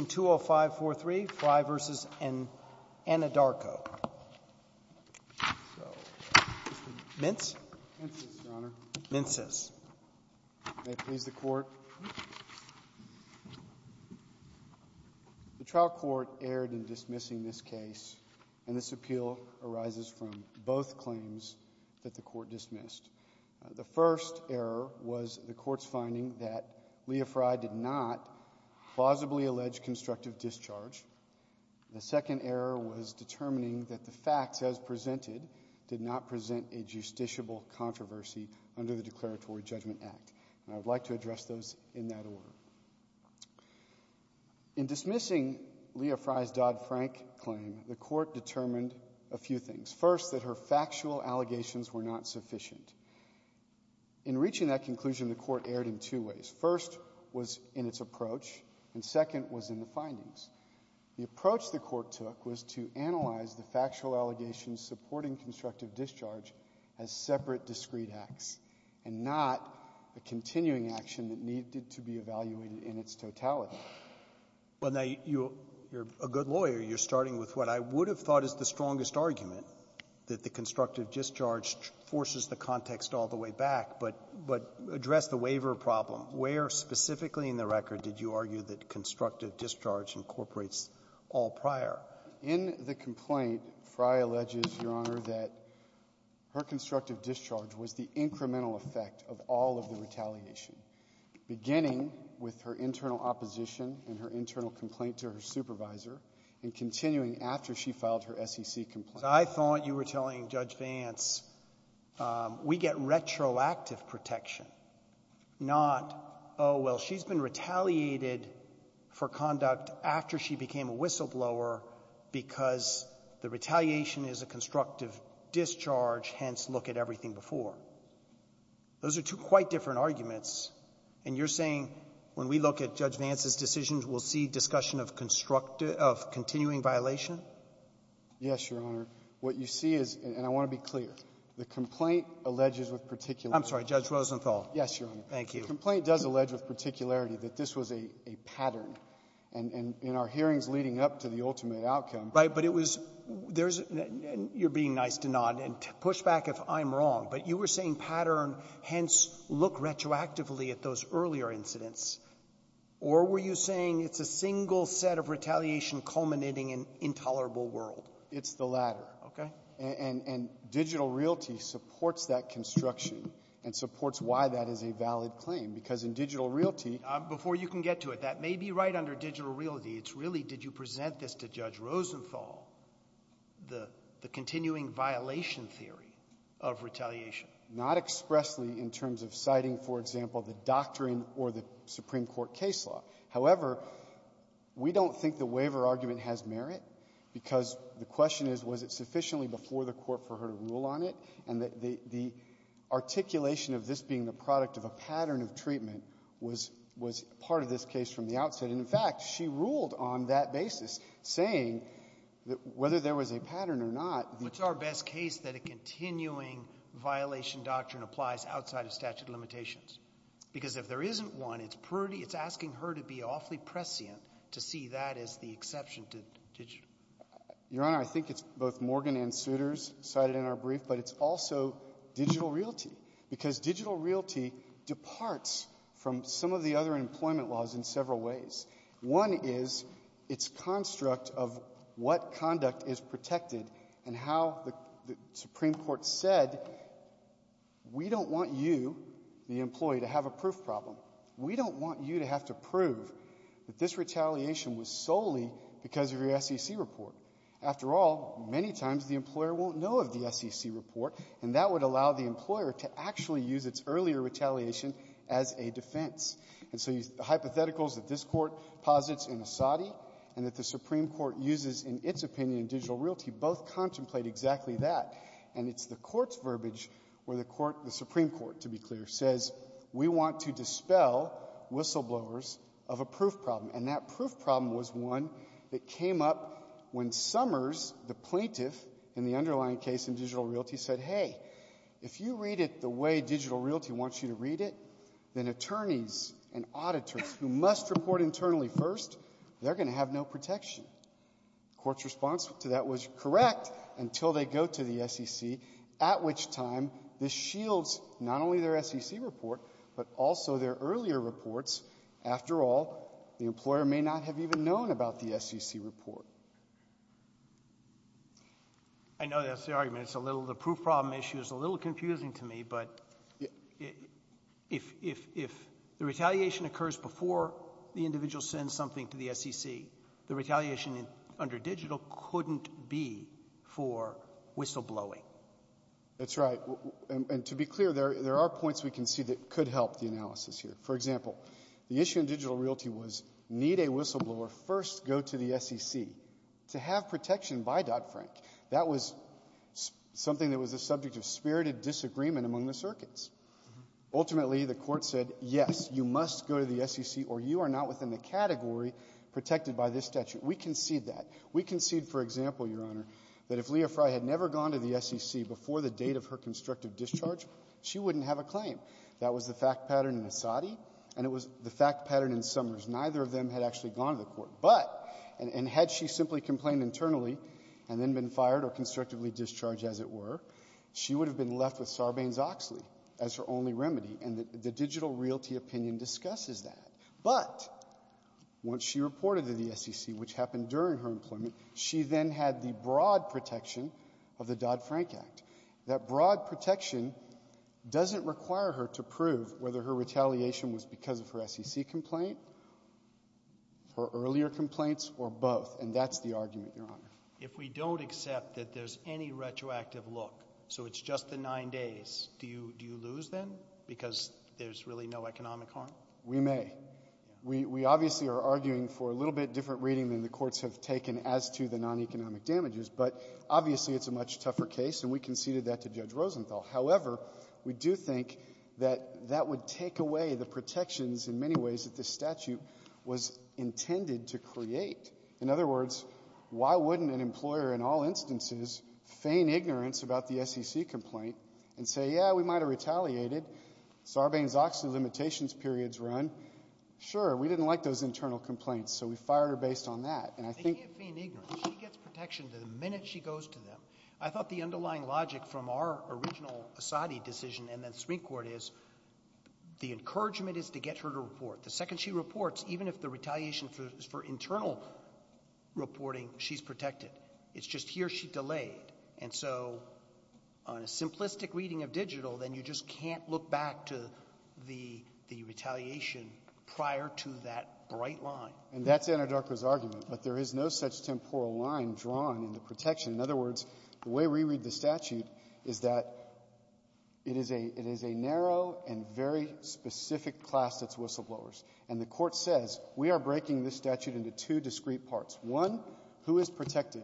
in 20543, Frye v. Anadarko. Mintz? Mintz, Your Honor. Mintz, yes. May it please the Court? The trial court erred in dismissing this case, and this appeal arises from both claims that the court dismissed. The first error was the court's finding that Lea Frye did not plausibly allege constructive discharge. The second error was determining that the facts as presented did not present a justiciable controversy under the Declaratory Judgment Act, and I would like to address those in that order. In dismissing Lea Frye's Dodd-Frank claim, the court determined a few things. First, that her factual allegations were not sufficient. In reaching that conclusion, the court erred in two ways. First was in its approach, and second was in the findings. The approach the court took was to analyze the factual allegations supporting constructive discharge as separate, discrete acts and not a continuing action that needed to be evaluated in its totality. Well, now, you're a good lawyer. You're starting with what I would have thought is the strongest argument, that the constructive discharge forces the context all the way back, but address the waiver problem. Where specifically in the record did you argue that constructive discharge incorporates all prior? In the complaint, Frye alleges, Your Honor, that her constructive discharge was the incremental effect of all of the retaliation, beginning with her internal opposition and her internal complaint to her supervisor, and continuing after she filed her SEC complaint. I thought you were telling Judge Vance, we get retroactive protection, not, oh, well, she's been retaliated for conduct after she became a whistleblower because the retaliation is a constructive discharge, hence, look at everything before. Those are two quite different arguments, and you're saying when we look at Judge Vance's decisions, we'll see discussion of continuing violation? Yes, Your Honor. What you see is, and I want to be clear, the complaint alleges with particularity. I'm sorry. Judge Rosenthal. Yes, Your Honor. Thank you. The complaint does allege with particularity that this was a pattern. And in our hearings leading up to the ultimate outcome — Right. But it was — there's — you're being nice to nod and push back if I'm wrong, but you were saying pattern, hence, look retroactively at those earlier incidents. Or were you saying it's a single set of retaliation culminating in intolerable world? It's the latter. Okay. And — and digital realty supports that construction and supports why that is a valid claim, because in digital realty — Before you can get to it, that may be right under digital realty. It's really did you Not expressly in terms of citing, for example, the doctrine or the Supreme Court case law. However, we don't think the waiver argument has merit, because the question is, was it sufficiently before the Court for her to rule on it, and that the — the articulation of this being the product of a pattern of treatment was — was part of this case from the outset. And in fact, she ruled on that basis, saying that whether there was a pattern or not It's our best case that a continuing violation doctrine applies outside of statute of limitations. Because if there isn't one, it's pretty — it's asking her to be awfully prescient to see that as the exception to digital. Your Honor, I think it's both Morgan and Souters cited in our brief, but it's also digital realty, because digital realty departs from some of the other employment laws in several ways. One is its construct of what conduct is protected and how the — the Supreme Court said, we don't want you, the employee, to have a proof problem. We don't want you to have to prove that this retaliation was solely because of your SEC report. After all, many times the employer won't know of the SEC report, and that would allow the employer to actually use its earlier retaliation as a defense. And so the hypotheticals that this Court posits in Asadi and that the Supreme Court uses in its opinion in digital realty both contemplate exactly that. And it's the Court's verbiage where the Supreme Court, to be clear, says, we want to dispel whistleblowers of a proof problem. And that proof problem was one that came up when Summers, the plaintiff in the underlying case in digital realty, said, hey, if you read it the way digital realty wants you to read it, then attorneys and auditors who must report internally first, they're going to have no protection. The Court's response to that was correct until they go to the SEC, at which time this shields not only their SEC report, but also their earlier reports. After all, the employer may not have even known about the SEC report. I know that's the argument. It's a little — the proof problem issue is a little confusing to me. But if — if — if the retaliation occurs before the individual sends something to the SEC, the retaliation under digital couldn't be for whistleblowing. That's right. And to be clear, there — there are points we can see that could help the analysis here. For example, the issue in digital realty was, need a whistleblower first go to the SEC to have protection by Dodd-Frank. That was something that was the subject of spirited disagreement among the circuits. Ultimately, the Court said, yes, you must go to the SEC, or you are not within the category protected by this statute. We concede that. We concede, for example, Your Honor, that if Lea Fry had never gone to the SEC before the date of her constructive discharge, she wouldn't have a claim. That was the fact pattern in Asadi, and it was the fact pattern in Summers. Neither of them had actually gone to the Court. But — and had she simply complained internally and then been fired or constructively discharged, as it were, she would have been left with Sarbanes-Oxley as her only remedy, and the digital realty opinion discusses that. But once she reported to the SEC, which happened during her employment, she then had the broad protection of the Dodd-Frank Act. That broad protection doesn't require her to prove whether her retaliation was because of her SEC complaint, her earlier complaints, or both. And that's the argument, Your Honor. If we don't accept that there's any retroactive look, so it's just the nine days, do you lose then because there's really no economic harm? We may. We obviously are arguing for a little bit different reading than the courts have taken as to the non-economic damages. But obviously, it's a much tougher case, and we conceded that to Judge Rosenthal. However, we do think that that would take away the protections in many ways that this statute was intended to create. In other words, why wouldn't an employer in all instances feign ignorance about the SEC complaint and say, yeah, we might have retaliated, Sarbanes-Oxley limitations periods run? Sure. We didn't like those internal complaints, so we fired her based on that. And I think — They can't feign ignorance. She gets protection the minute she goes to them. I thought the underlying logic from our original Asadi decision and then Supreme Court is, the encouragement is to get her to report. The second she reports, even if the retaliation is for internal reporting, she's protected. It's just here she delayed. And so on a simplistic reading of digital, then you just can't look back to the — the retaliation prior to that bright line. And that's Anadarko's argument. But there is no such temporal line drawn in the protection. In other words, the way we read the statute is that it is a — it is a narrow and very specific class that's whistleblowers. And the Court says, we are breaking this statute into two discrete parts. One, who is protected?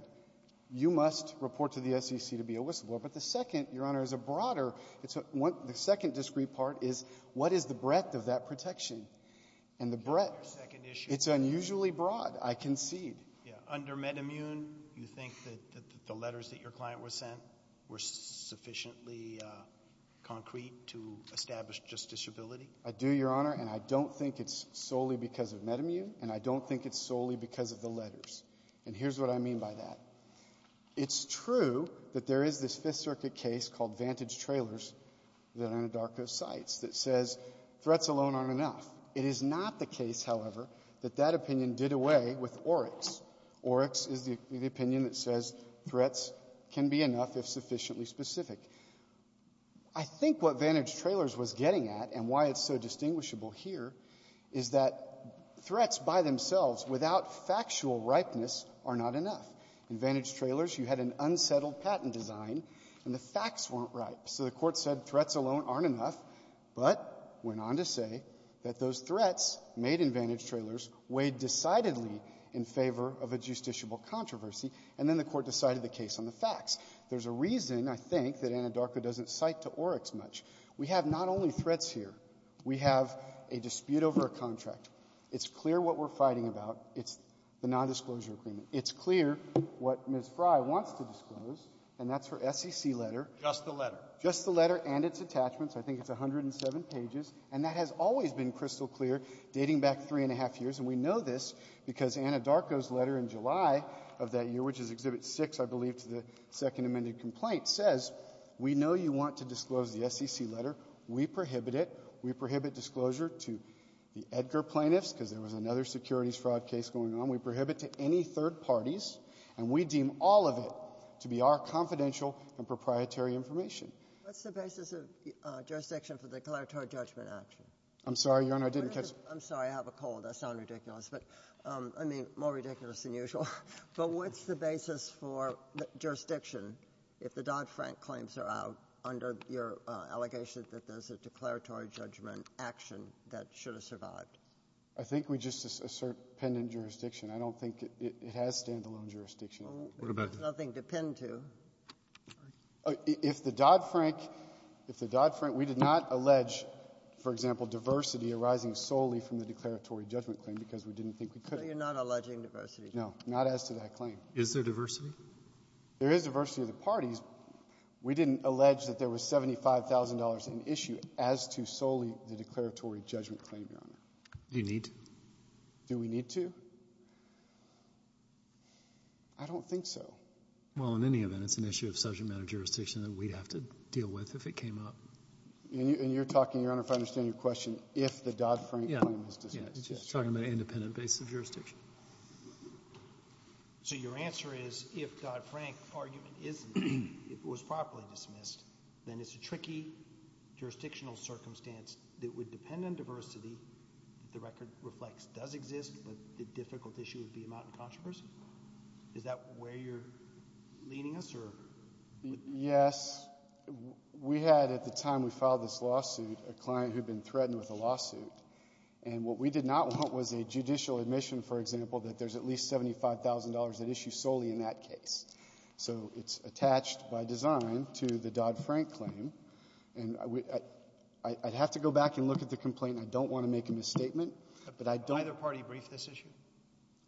You must report to the SEC to be a whistleblower. But the second, Your Honor, is a broader — it's a — the second discrete part is, what is the breadth of that protection? And the breadth — Your second issue — It's unusually broad, I concede. Yeah. Under MedImmune, you think that the letters that your client was sent were sufficiently concrete to establish justiciability? I do, Your Honor. And I don't think it's solely because of MedImmune. And I don't think it's solely because of the letters. And here's what I mean by that. It's true that there is this Fifth Circuit case called Vantage Trailers that Anadarko cites that says threats alone aren't enough. It is not the case, however, that that opinion did away with Oryx. Oryx is the opinion that says threats can be enough if sufficiently specific. I think what Vantage Trailers was getting at and why it's so distinguishable here is that threats by themselves without factual ripeness are not enough. In Vantage Trailers, you had an unsettled patent design, and the facts weren't ripe. So the Court said threats alone aren't enough, but went on to say that those threats made in Vantage Trailers weighed decidedly in favor of a justiciable controversy, and then the Court decided the case on the facts. There's a reason, I think, that Anadarko doesn't cite to Oryx much. We have not only threats here. We have a dispute over a contract. It's clear what we're fighting about. It's the nondisclosure agreement. It's clear what Ms. Frey wants to disclose, and that's her SEC letter. Just the letter. Just the letter and its attachments. I think it's 107 pages. And that has always been crystal clear, dating back three and a half years. And we know this because Anadarko's letter in July of that year, which is Exhibit 6, I believe, to the Second Amended Complaint, says we know you want to disclose the SEC letter. We prohibit it. We prohibit disclosure to the Edgar plaintiffs because there was another securities fraud case going on. We prohibit to any third parties. And we deem all of it to be our confidential and proprietary information. What's the basis of jurisdiction for declaratory judgment action? I'm sorry, Your Honor, I didn't catch the question. I'm sorry. I have a cold. I sound ridiculous. But, I mean, more ridiculous than usual. But what's the basis for jurisdiction if the Dodd-Frank claims are out under your allegation that there's a declaratory judgment action that should have survived? I think we just assert pendant jurisdiction. I don't think it has stand-alone jurisdiction. What about that? Nothing to pin to. If the Dodd-Frank, if the Dodd-Frank, we did not allege, for example, diversity arising solely from the declaratory judgment claim because we didn't think we could. So you're not alleging diversity. No. Not as to that claim. Is there diversity? There is diversity of the parties. We didn't allege that there was $75,000 in issue as to solely the declaratory judgment claim, Your Honor. Do you need to? Do we need to? I don't think so. Well, in any event, it's an issue of subject matter jurisdiction that we'd have to deal with if it came up. And you're talking, Your Honor, if I understand your question, if the Dodd-Frank claim is dismissed. Yes. Yes. Talking about an independent base of jurisdiction. So your answer is if Dodd-Frank argument is, if it was properly dismissed, then it's a tricky jurisdictional circumstance that would depend on diversity that the record reflects does exist, but the difficult issue would be amount in controversy? Is that where you're leading us? Yes. We had, at the time we filed this lawsuit, a client who'd been threatened with a lawsuit. And what we did not want was a judicial admission, for example, that there's at least $75,000 in issue solely in that case. So it's attached by design to the Dodd-Frank claim. And I'd have to go back and look at the complaint. I don't want to make a misstatement, but I don't want to make a misstatement. Did either party brief this issue?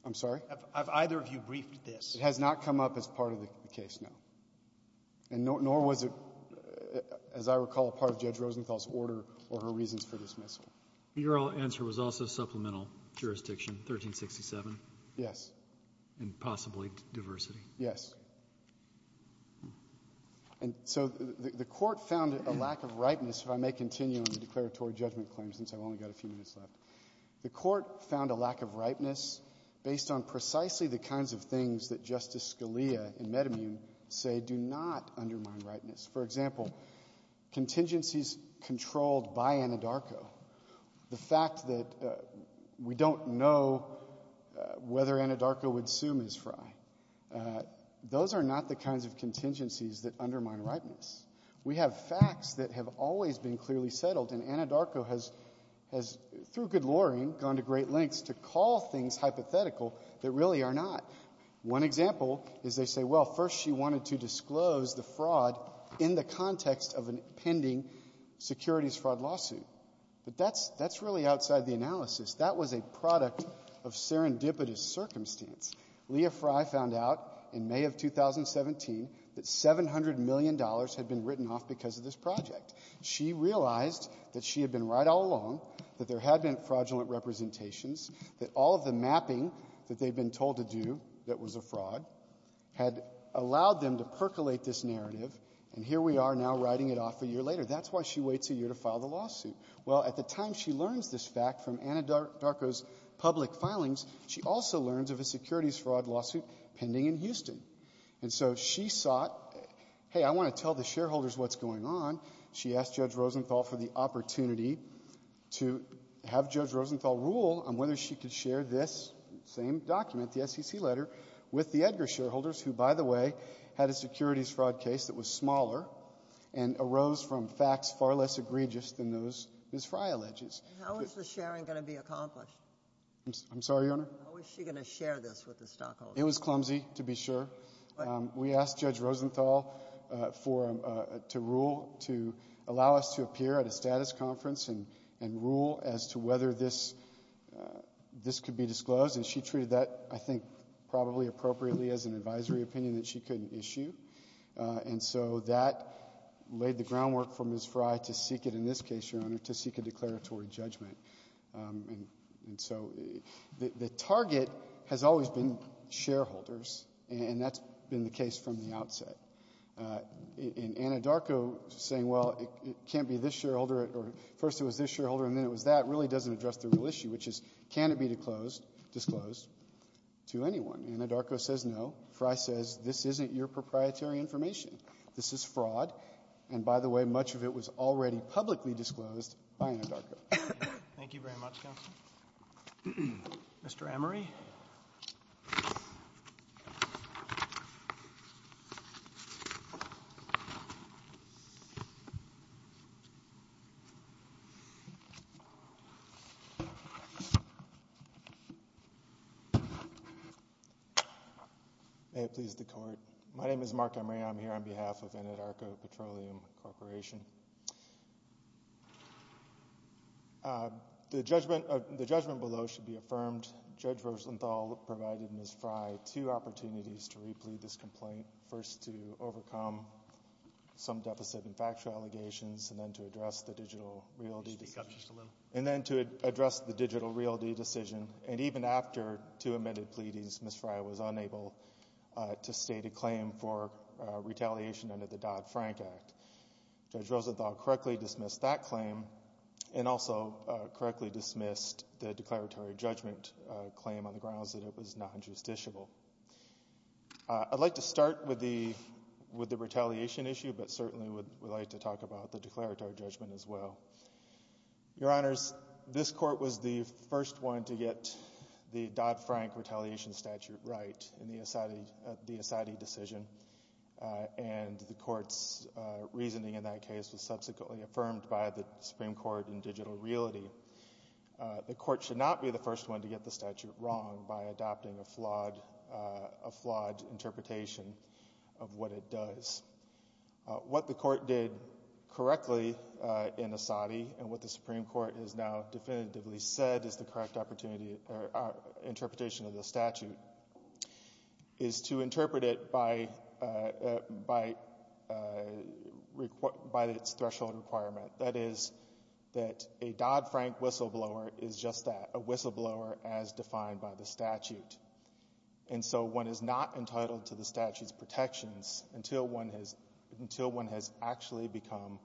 I'm sorry? Either of you briefed this? It has not come up as part of the case, no. And nor was it, as I recall, a part of Judge Rosenthal's order or her reasons for dismissal. Your answer was also supplemental jurisdiction, 1367? Yes. And possibly diversity? Yes. And so the Court found a lack of ripeness, if I may continue on the declaratory judgment claim, since I've only got a few minutes left. The Court found a lack of ripeness based on precisely the kinds of things that Justice Scalia in Metamune say do not undermine ripeness. For example, contingencies controlled by Anadarko, the fact that we don't know whether Anadarko would sue Ms. Frye, those are not the kinds of contingencies that undermine ripeness. We have facts that have always been clearly settled. And Anadarko has, through good luring, gone to great lengths to call things hypothetical that really are not. One example is they say, well, first she wanted to disclose the fraud in the context of a pending securities fraud lawsuit. But that's really outside the analysis. That was a product of serendipitous circumstance. Leah Frye found out in May of 2017 that $700 million had been written off because of this project. She realized that she had been right all along, that there had been fraudulent representations, that all of the mapping that they'd been told to do that was a fraud had allowed them to percolate this narrative, and here we are now writing it off a year later. That's why she waits a year to file the lawsuit. Well, at the time she learns this fact from Anadarko's public filings, she also learns of a securities fraud lawsuit pending in Houston. And so she sought, hey, I want to tell the shareholders what's going on. She asked Judge Rosenthal for the opportunity to have Judge Rosenthal rule on whether she could share this same document, the SEC letter, with the Edgar shareholders, who, by the way, had a securities fraud case that was smaller and arose from facts far less egregious than those Ms. Frye alleges. How is the sharing going to be accomplished? I'm sorry, Your Honor? How is she going to share this with the stockholders? It was clumsy, to be sure. We asked Judge Rosenthal to allow us to appear at a status conference and rule as to whether this could be disclosed, and she treated that, I think, probably appropriately as an advisory opinion that she couldn't issue. And so that laid the groundwork for Ms. Frye to seek it, in this case, Your Honor, to seek a declaratory judgment. And so the target has always been shareholders, and that's been the case from the outset. And Anadarko saying, well, it can't be this shareholder, or first it was this shareholder and then it was that, really doesn't address the real issue, which is, can it be disclosed to anyone? Anadarko says no. Frye says, this isn't your proprietary information. This is fraud. And by the way, much of it was already publicly disclosed by Anadarko. Thank you very much, counsel. Mr. Emery. May it please the Court. My name is Mark Emery. I'm here on behalf of Anadarko Petroleum Corporation. The judgment below should be affirmed. Judge Rosenthal provided Ms. Frye two opportunities to replead this complaint. First to overcome some deficit in factual allegations, and then to address the digital realty decision. And even after two amended pleadings, Ms. Frye was unable to state a claim for retaliation under the Dodd-Frank Act. Judge Rosenthal correctly dismissed that claim, and also correctly dismissed the declaratory judgment claim on the grounds that it was non-justiciable. I'd like to start with the retaliation issue, but certainly would like to talk about the declaratory judgment as well. Your Honors, this Court was the first one to get the Dodd-Frank retaliation statute right in the Asadi decision, and the Court's reasoning in that case was subsequently affirmed by the Supreme Court in digital realty. The Court should not be the first one to get the statute wrong by adopting a flawed interpretation of what it does. What the Court did correctly in Asadi, and what the Supreme Court has now done to correct our interpretation of the statute, is to interpret it by its threshold requirement, that is, that a Dodd-Frank whistleblower is just that, a whistleblower as defined by the statute. And so one is not entitled to the statute's protections until one has actually become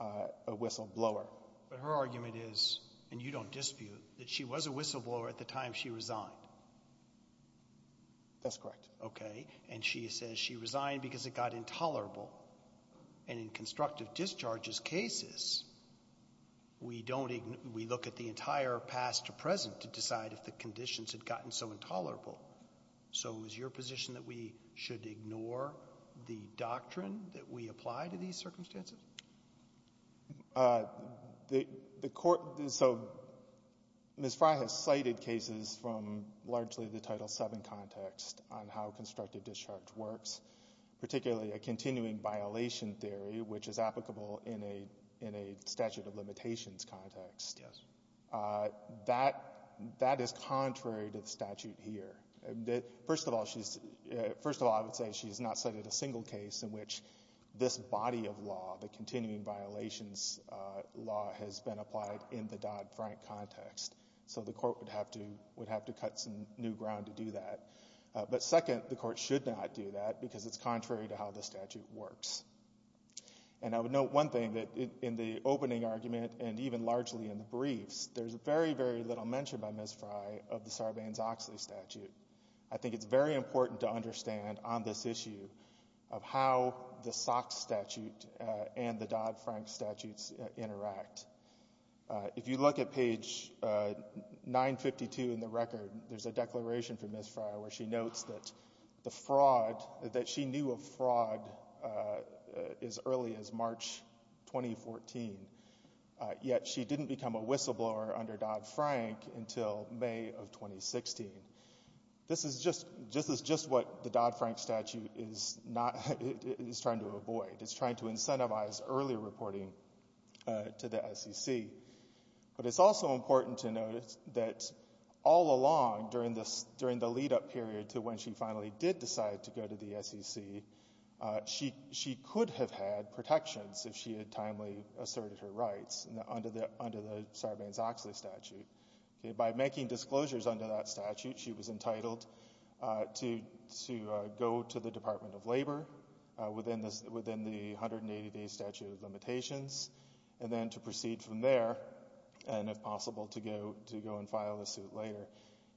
a whistleblower. But her argument is, and you don't dispute, that she was a whistleblower at the time she resigned. That's correct. Okay. And she says she resigned because it got intolerable. And in constructive discharges cases, we don't ignore — we look at the entire past to present to decide if the conditions had gotten so intolerable. So is your position that we should ignore the doctrine that we apply to these circumstances? The Court — so Ms. Frey has cited cases from largely the Title VII context on how constructive discharge works, particularly a continuing violation theory, which is applicable in a statute of limitations context. Yes. That is contrary to the statute here. First of all, she's — first of all, I would say she has not cited a single case in which this body of law, the continuing violations law, has been applied in the Dodd-Frank context. So the Court would have to cut some new ground to do that. But second, the Court should not do that because it's contrary to how the statute works. And I would note one thing, that in the opening argument and even largely in the briefs, there's very, very little mention by Ms. Frey of the Sarbanes-Oxley statute. I think it's very important to understand on this issue of how the Sox statute and the Dodd-Frank statutes interact. If you look at page 952 in the record, there's a declaration from Ms. Frey where she notes that the fraud — that she knew of fraud as early as March 2014, yet she didn't become a whistleblower under Dodd-Frank until May of 2016. This is just — this is just what the Dodd-Frank statute is not — is trying to avoid. It's trying to incentivize early reporting to the SEC. But it's also important to note that all along during the — during the lead-up period to when she finally did decide to go to the SEC, she could have had protections if she had timely asserted her rights under the Sarbanes-Oxley statute. By making disclosures under that statute, she was entitled to go to the Department of Labor within the 180-day statute of limitations and then to proceed from there and, if possible, to go and file a suit later.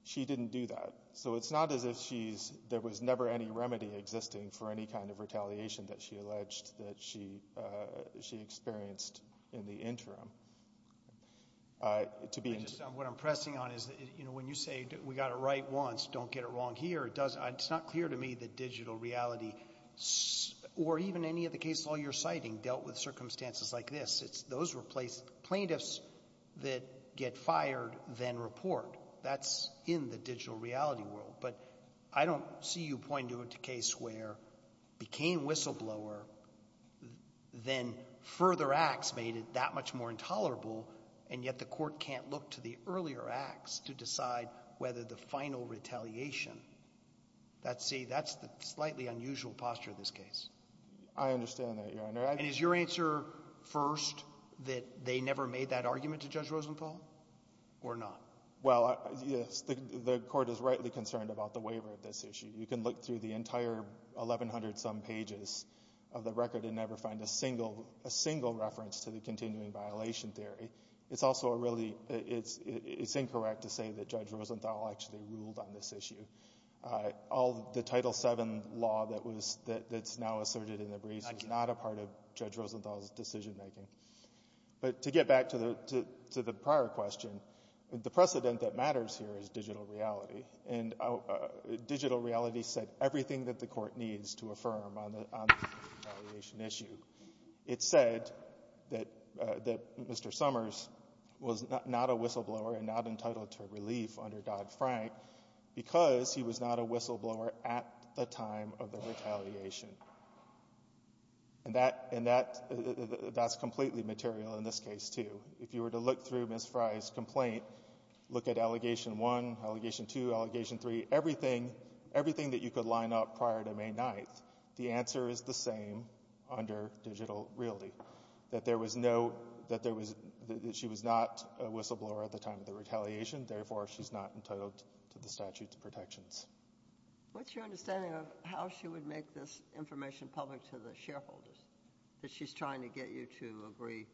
She didn't do that. So it's not as if she's — there was never any remedy existing for any kind of retaliation that she alleged that she experienced in the interim. To be — What I'm pressing on is that, you know, when you say we got it right once, don't get it wrong here, it doesn't — it's not clear to me that digital reality or even any of the cases all you're citing dealt with circumstances like this. Those were placed — plaintiffs that get fired then report. That's in the digital reality world. But I don't see you pointing to a case where it became whistleblower, then further acts made it that much more intolerable, and yet the Court can't look to the earlier acts to decide whether the final retaliation — see, that's the slightly unusual posture of this case. I understand that, Your Honor. And is your answer, first, that they never made that argument to Judge Rosenthal or not? Well, yes, the Court is rightly concerned about the waiver of this issue. You can look through the entire 1,100-some pages of the record and never find a single reference to the continuing violation theory. It's also a really — it's incorrect to say that Judge Rosenthal actually ruled on this issue. All the Title VII law that was — that's now asserted in the briefs is not a part of Judge Rosenthal's decision-making. But to get back to the prior question, the precedent that matters here is digital reality. And digital reality said everything that the Court needs to affirm on the retaliation issue. It said that Mr. Summers was not a whistleblower and not entitled to relief under Dodd-Frank because he was not a whistleblower at the time of the retaliation. And that — and that's completely material in this case, too. If you were to look through Ms. Frye's complaint, look at Allegation 1, Allegation 2, Allegation 3, everything — everything that you could line up prior to May 9th, the answer is the same under digital reality, that there was no — that there was — that she was not a whistleblower at the time of the retaliation, therefore she's not entitled to the statute of protections. What's your understanding of how she would make this information public to the shareholders, that she's trying to get you to agree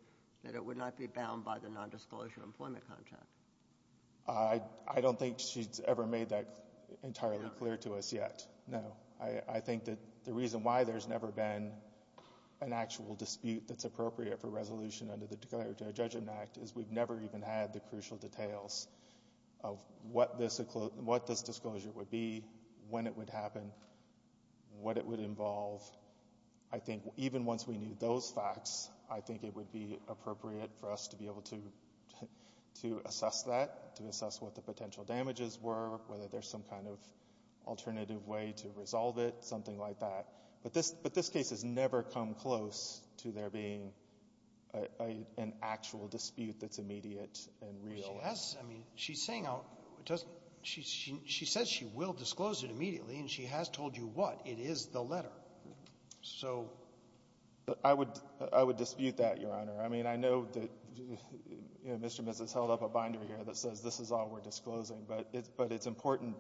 that it would not be bound by the nondisclosure employment contract? I don't think she's ever made that entirely clear to us yet, no. I think that the reason why there's never been an actual dispute that's appropriate for resolution under the Declaratory Judgment Act is we've never even had the crucial details of what this disclosure would be, when it would happen, what it would involve. I think even once we knew those facts, I think it would be appropriate for us to be able to assess that, to assess what the potential damages were, whether there's some kind of alternative way to resolve it, something like that. But this case has never come close to there being an actual dispute that's immediate and real. She has. I mean, she's saying how it doesn't — she says she will disclose it immediately, and she has told you what. It is the letter. So — I would — I would dispute that, Your Honor. I mean, I know that, you know, Mr. and Mrs. held up a binder here that says this is all we're disclosing, but it's — but it's important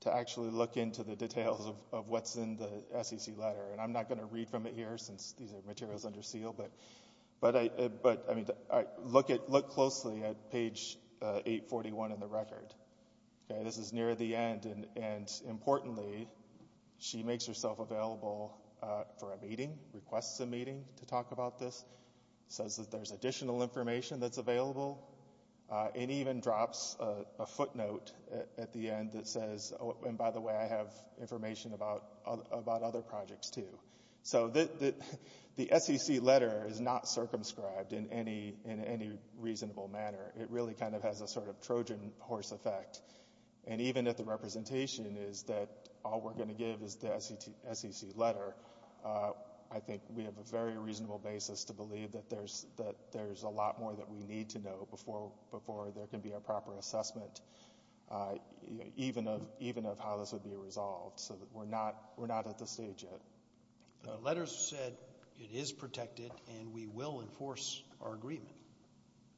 to actually look into the details of what's in the SEC letter. And I'm not going to read from it here, since these are materials under seal, but I — but, I mean, look at — look closely at page 841 in the record, okay? This is near the end, and importantly, she makes herself available for a meeting, requests a meeting to talk about this, says that there's additional information that's available, and even drops a footnote at the end that says, oh, and by the way, I have information about other projects, too. So the SEC letter is not circumscribed in any — in any reasonable manner. It really kind of has a sort of Trojan horse effect. And even if the representation is that all we're going to give is the SEC letter, I think we have a very reasonable basis to believe that there's — that there's a lot more that we need to know before there can be a proper assessment, even of — even of how this would be resolved, so that we're not — we're not at this stage yet. The letter said it is protected, and we will enforce our agreement.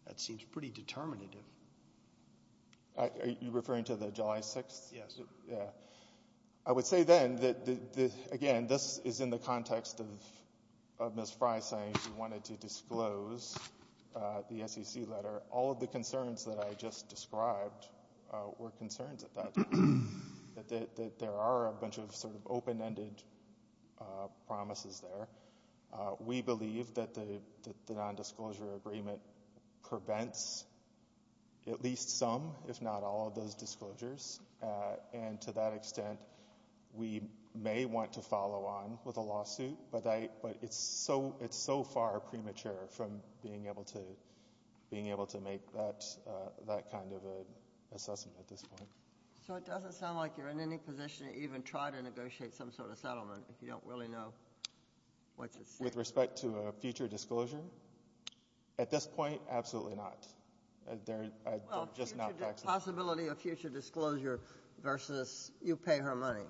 That seems pretty determinative. Are you referring to the July 6th? Yes. Yeah. I would say then that the — again, this is in the context of Ms. Fry saying she wanted to disclose the SEC letter. All of the concerns that I just described were concerns at that time, that there are a bunch of sort of open-ended promises there. We believe that the nondisclosure agreement prevents at least some, if not all, of those disclosures. And to that extent, we may want to follow on with a lawsuit, but I — but it's so — it's so far premature from being able to — being able to make that — that kind of an assessment at this point. So it doesn't sound like you're in any position to even try to negotiate some sort of settlement if you don't really know what's at stake? With respect to a future disclosure? At this point, absolutely not. There — I'm just not faxing — Well, future — possibility of future disclosure versus you pay her money,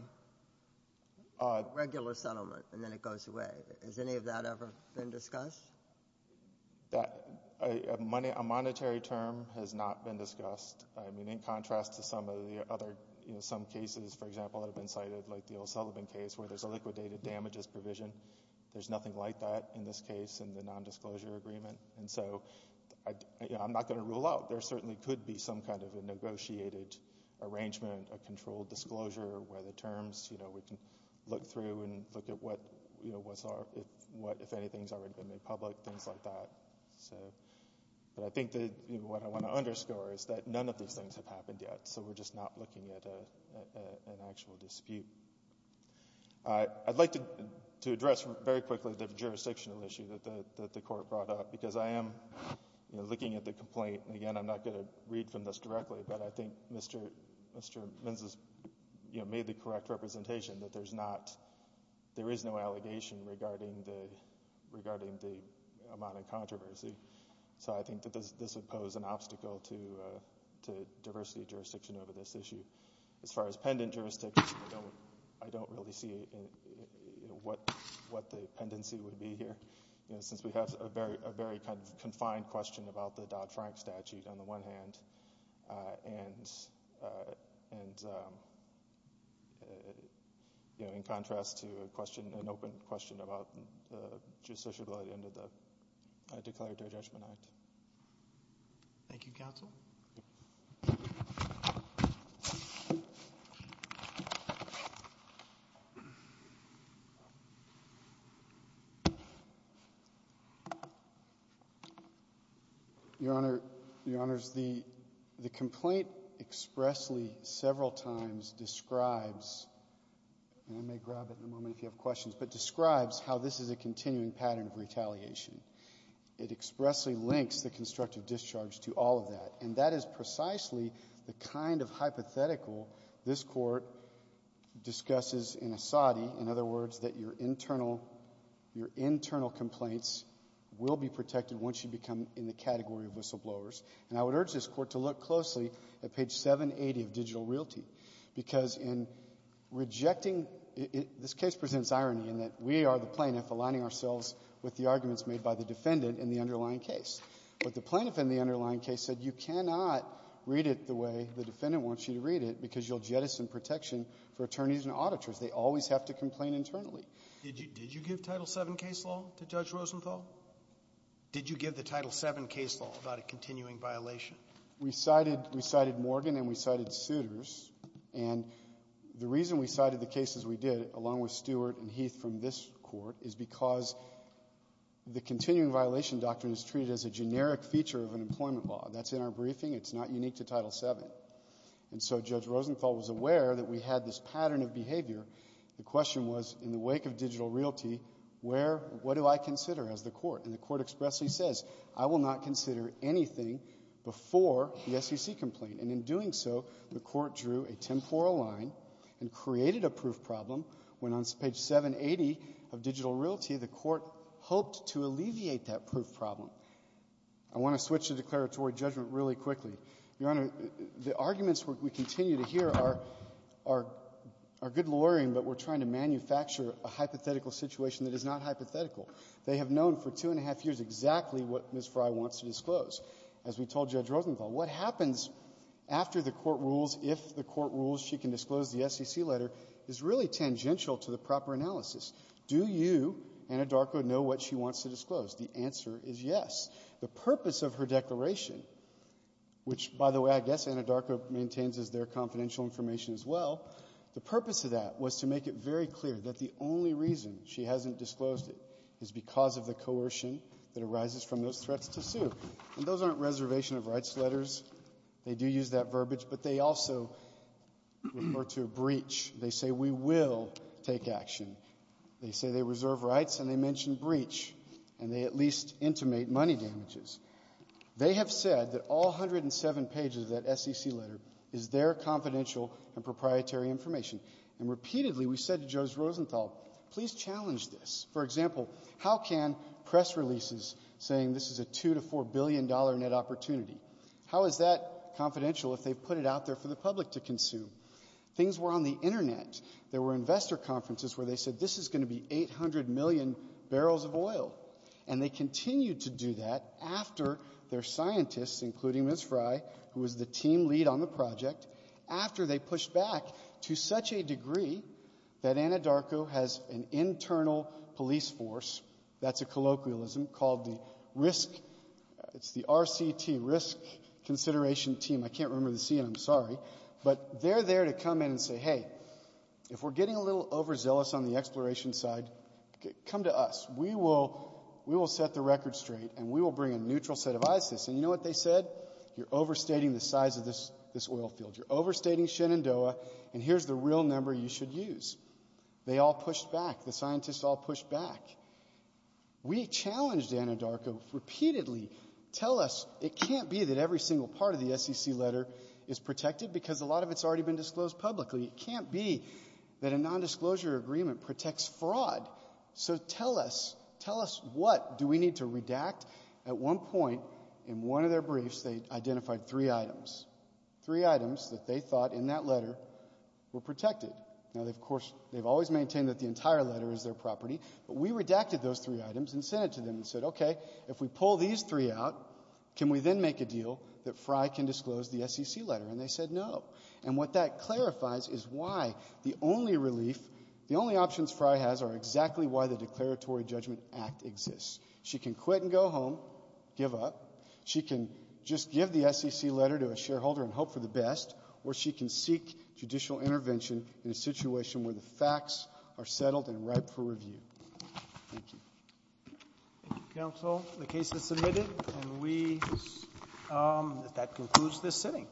a regular settlement, and then it goes away. Has any of that ever been discussed? That — a monetary term has not been discussed. I mean, in contrast to some of the other — you know, some cases, for example, that have been cited, like the O'Sullivan case, where there's a liquidated damages provision, there's nothing like that in this case in the nondisclosure agreement. And so, you know, I'm not going to rule out there certainly could be some kind of a negotiated arrangement, a controlled disclosure, where the terms, you know, we can look through and look at what, you know, what's our — if anything's already been made public, things like that. So — but I think that, you know, what I want to underscore is that none of these things have happened yet, so we're just not looking at an actual dispute. I'd like to address very quickly the jurisdictional issue that the Court brought up, because I am, you know, looking at the complaint, and again, I'm not going to read from this directly, but I think Mr. Menzies, you know, made the correct representation that there's not — there is no allegation regarding the amount of controversy. So I think that this would pose an obstacle to diversity of jurisdiction over this issue. As far as pendant jurisdiction, I don't really see what the pendency would be here, you know, and, you know, in contrast to a question — an open question about the justiciability under the Declaratory Judgment Act. Thank you, Counsel. Your Honor, the complaint expressly, several times, describes — and I may grab it in a moment if you have questions — but describes how this is a continuing pattern of retaliation. It expressly links the constructive discharge to all of that, and that is precisely the kind of hypothetical this Court discusses in Asadi, in other words, that your internal — your internal complaints will be protected once you become in the category of whistleblowers. And I would urge this Court to look closely at page 780 of Digital Realty, because in rejecting — this case presents irony in that we are the plaintiff aligning ourselves with the arguments made by the defendant in the underlying case. But the plaintiff in the underlying case said you cannot read it the way the defendant wants you to read it because you'll jettison protection for attorneys and auditors. They always have to complain internally. Did you give Title VII case law to Judge Rosenthal? Did you give the Title VII case law about a continuing violation? We cited — we cited Morgan and we cited Souters. And the reason we cited the cases we did, along with Stewart and Heath from this Court, is because the continuing violation doctrine is treated as a generic feature of an employment law. That's in our briefing. It's not unique to Title VII. And so Judge Rosenthal was aware that we had this pattern of behavior. The question was, in the wake of Digital Realty, where — what do I consider as the Court? And the Court expressly says, I will not consider anything before the SEC complaint. And in doing so, the Court drew a temporal line and created a proof problem when, on page 780 of Digital Realty, the Court hoped to alleviate that proof problem. I want to switch to declaratory judgment really quickly. Your Honor, the arguments we continue to hear are — are good lawyering, but we're trying to manufacture a hypothetical situation that is not hypothetical. They have known for two and a half years exactly what Ms. Frey wants to disclose. As we told Judge Rosenthal, what happens after the court rules, if the court rules, she can disclose the SEC letter, is really tangential to the proper analysis. Do you, Anadarko, know what she wants to disclose? The answer is yes. The purpose of her declaration, which, by the way, I guess Anadarko maintains as their confidential information as well, the purpose of that was to make it very clear that the only reason she hasn't disclosed it is because of the coercion that arises from those threats to sue. And those aren't reservation of rights letters. They do use that verbiage. But they also refer to a breach. They say, we will take action. They say they reserve rights, and they mention breach, and they at least intimate money damages. They have said that all 107 pages of that SEC letter is their confidential and proprietary information. And repeatedly, we said to Judge Rosenthal, please challenge this. For example, how can press releases saying this is a $2 to $4 billion net opportunity, how is that confidential if they've put it out there for the public to consume? Things were on the Internet. There were investor conferences where they said this is going to be 800 million barrels of oil. And they continued to do that after their scientists, including Ms. Fry, who was the team lead on the project, after they pushed back to such a degree that Anadarko has an internal police force that's a colloquialism called the RCT, Risk Consideration Team. I can't remember the C, and I'm sorry. But they're there to come in and say, hey, if we're getting a little overzealous on the exploration side, come to us. We will set the record straight, and we will bring a neutral set of eyes to this. And you know what they said? You're overstating the size of this oil field. You're overstating Shenandoah, and here's the real number you should use. They all pushed back. The scientists all pushed back. We challenged Anadarko repeatedly, tell us it can't be that every single part of the SEC letter is protected because a lot of it's already been disclosed publicly. It can't be that a nondisclosure agreement protects fraud. So tell us, tell us what do we need to redact? At one point, in one of their briefs, they identified three items, three items that they thought in that letter were protected. Now, of course, they've always maintained that the entire letter is their property, but we redacted those three items and sent it to them and said, okay, if we pull these three out, can we then make a deal that Frye can disclose the SEC letter? And they said no. And what that clarifies is why the only relief, the only options Frye has are exactly why the Declaratory Judgment Act exists. She can quit and go home, give up. She can just give the SEC letter to a shareholder and hope for the best, or she can seek judicial intervention in a situation where the facts are settled and ripe for review. Thank you. Thank you, counsel. The case is submitted. And we, that concludes this sitting. Thank you.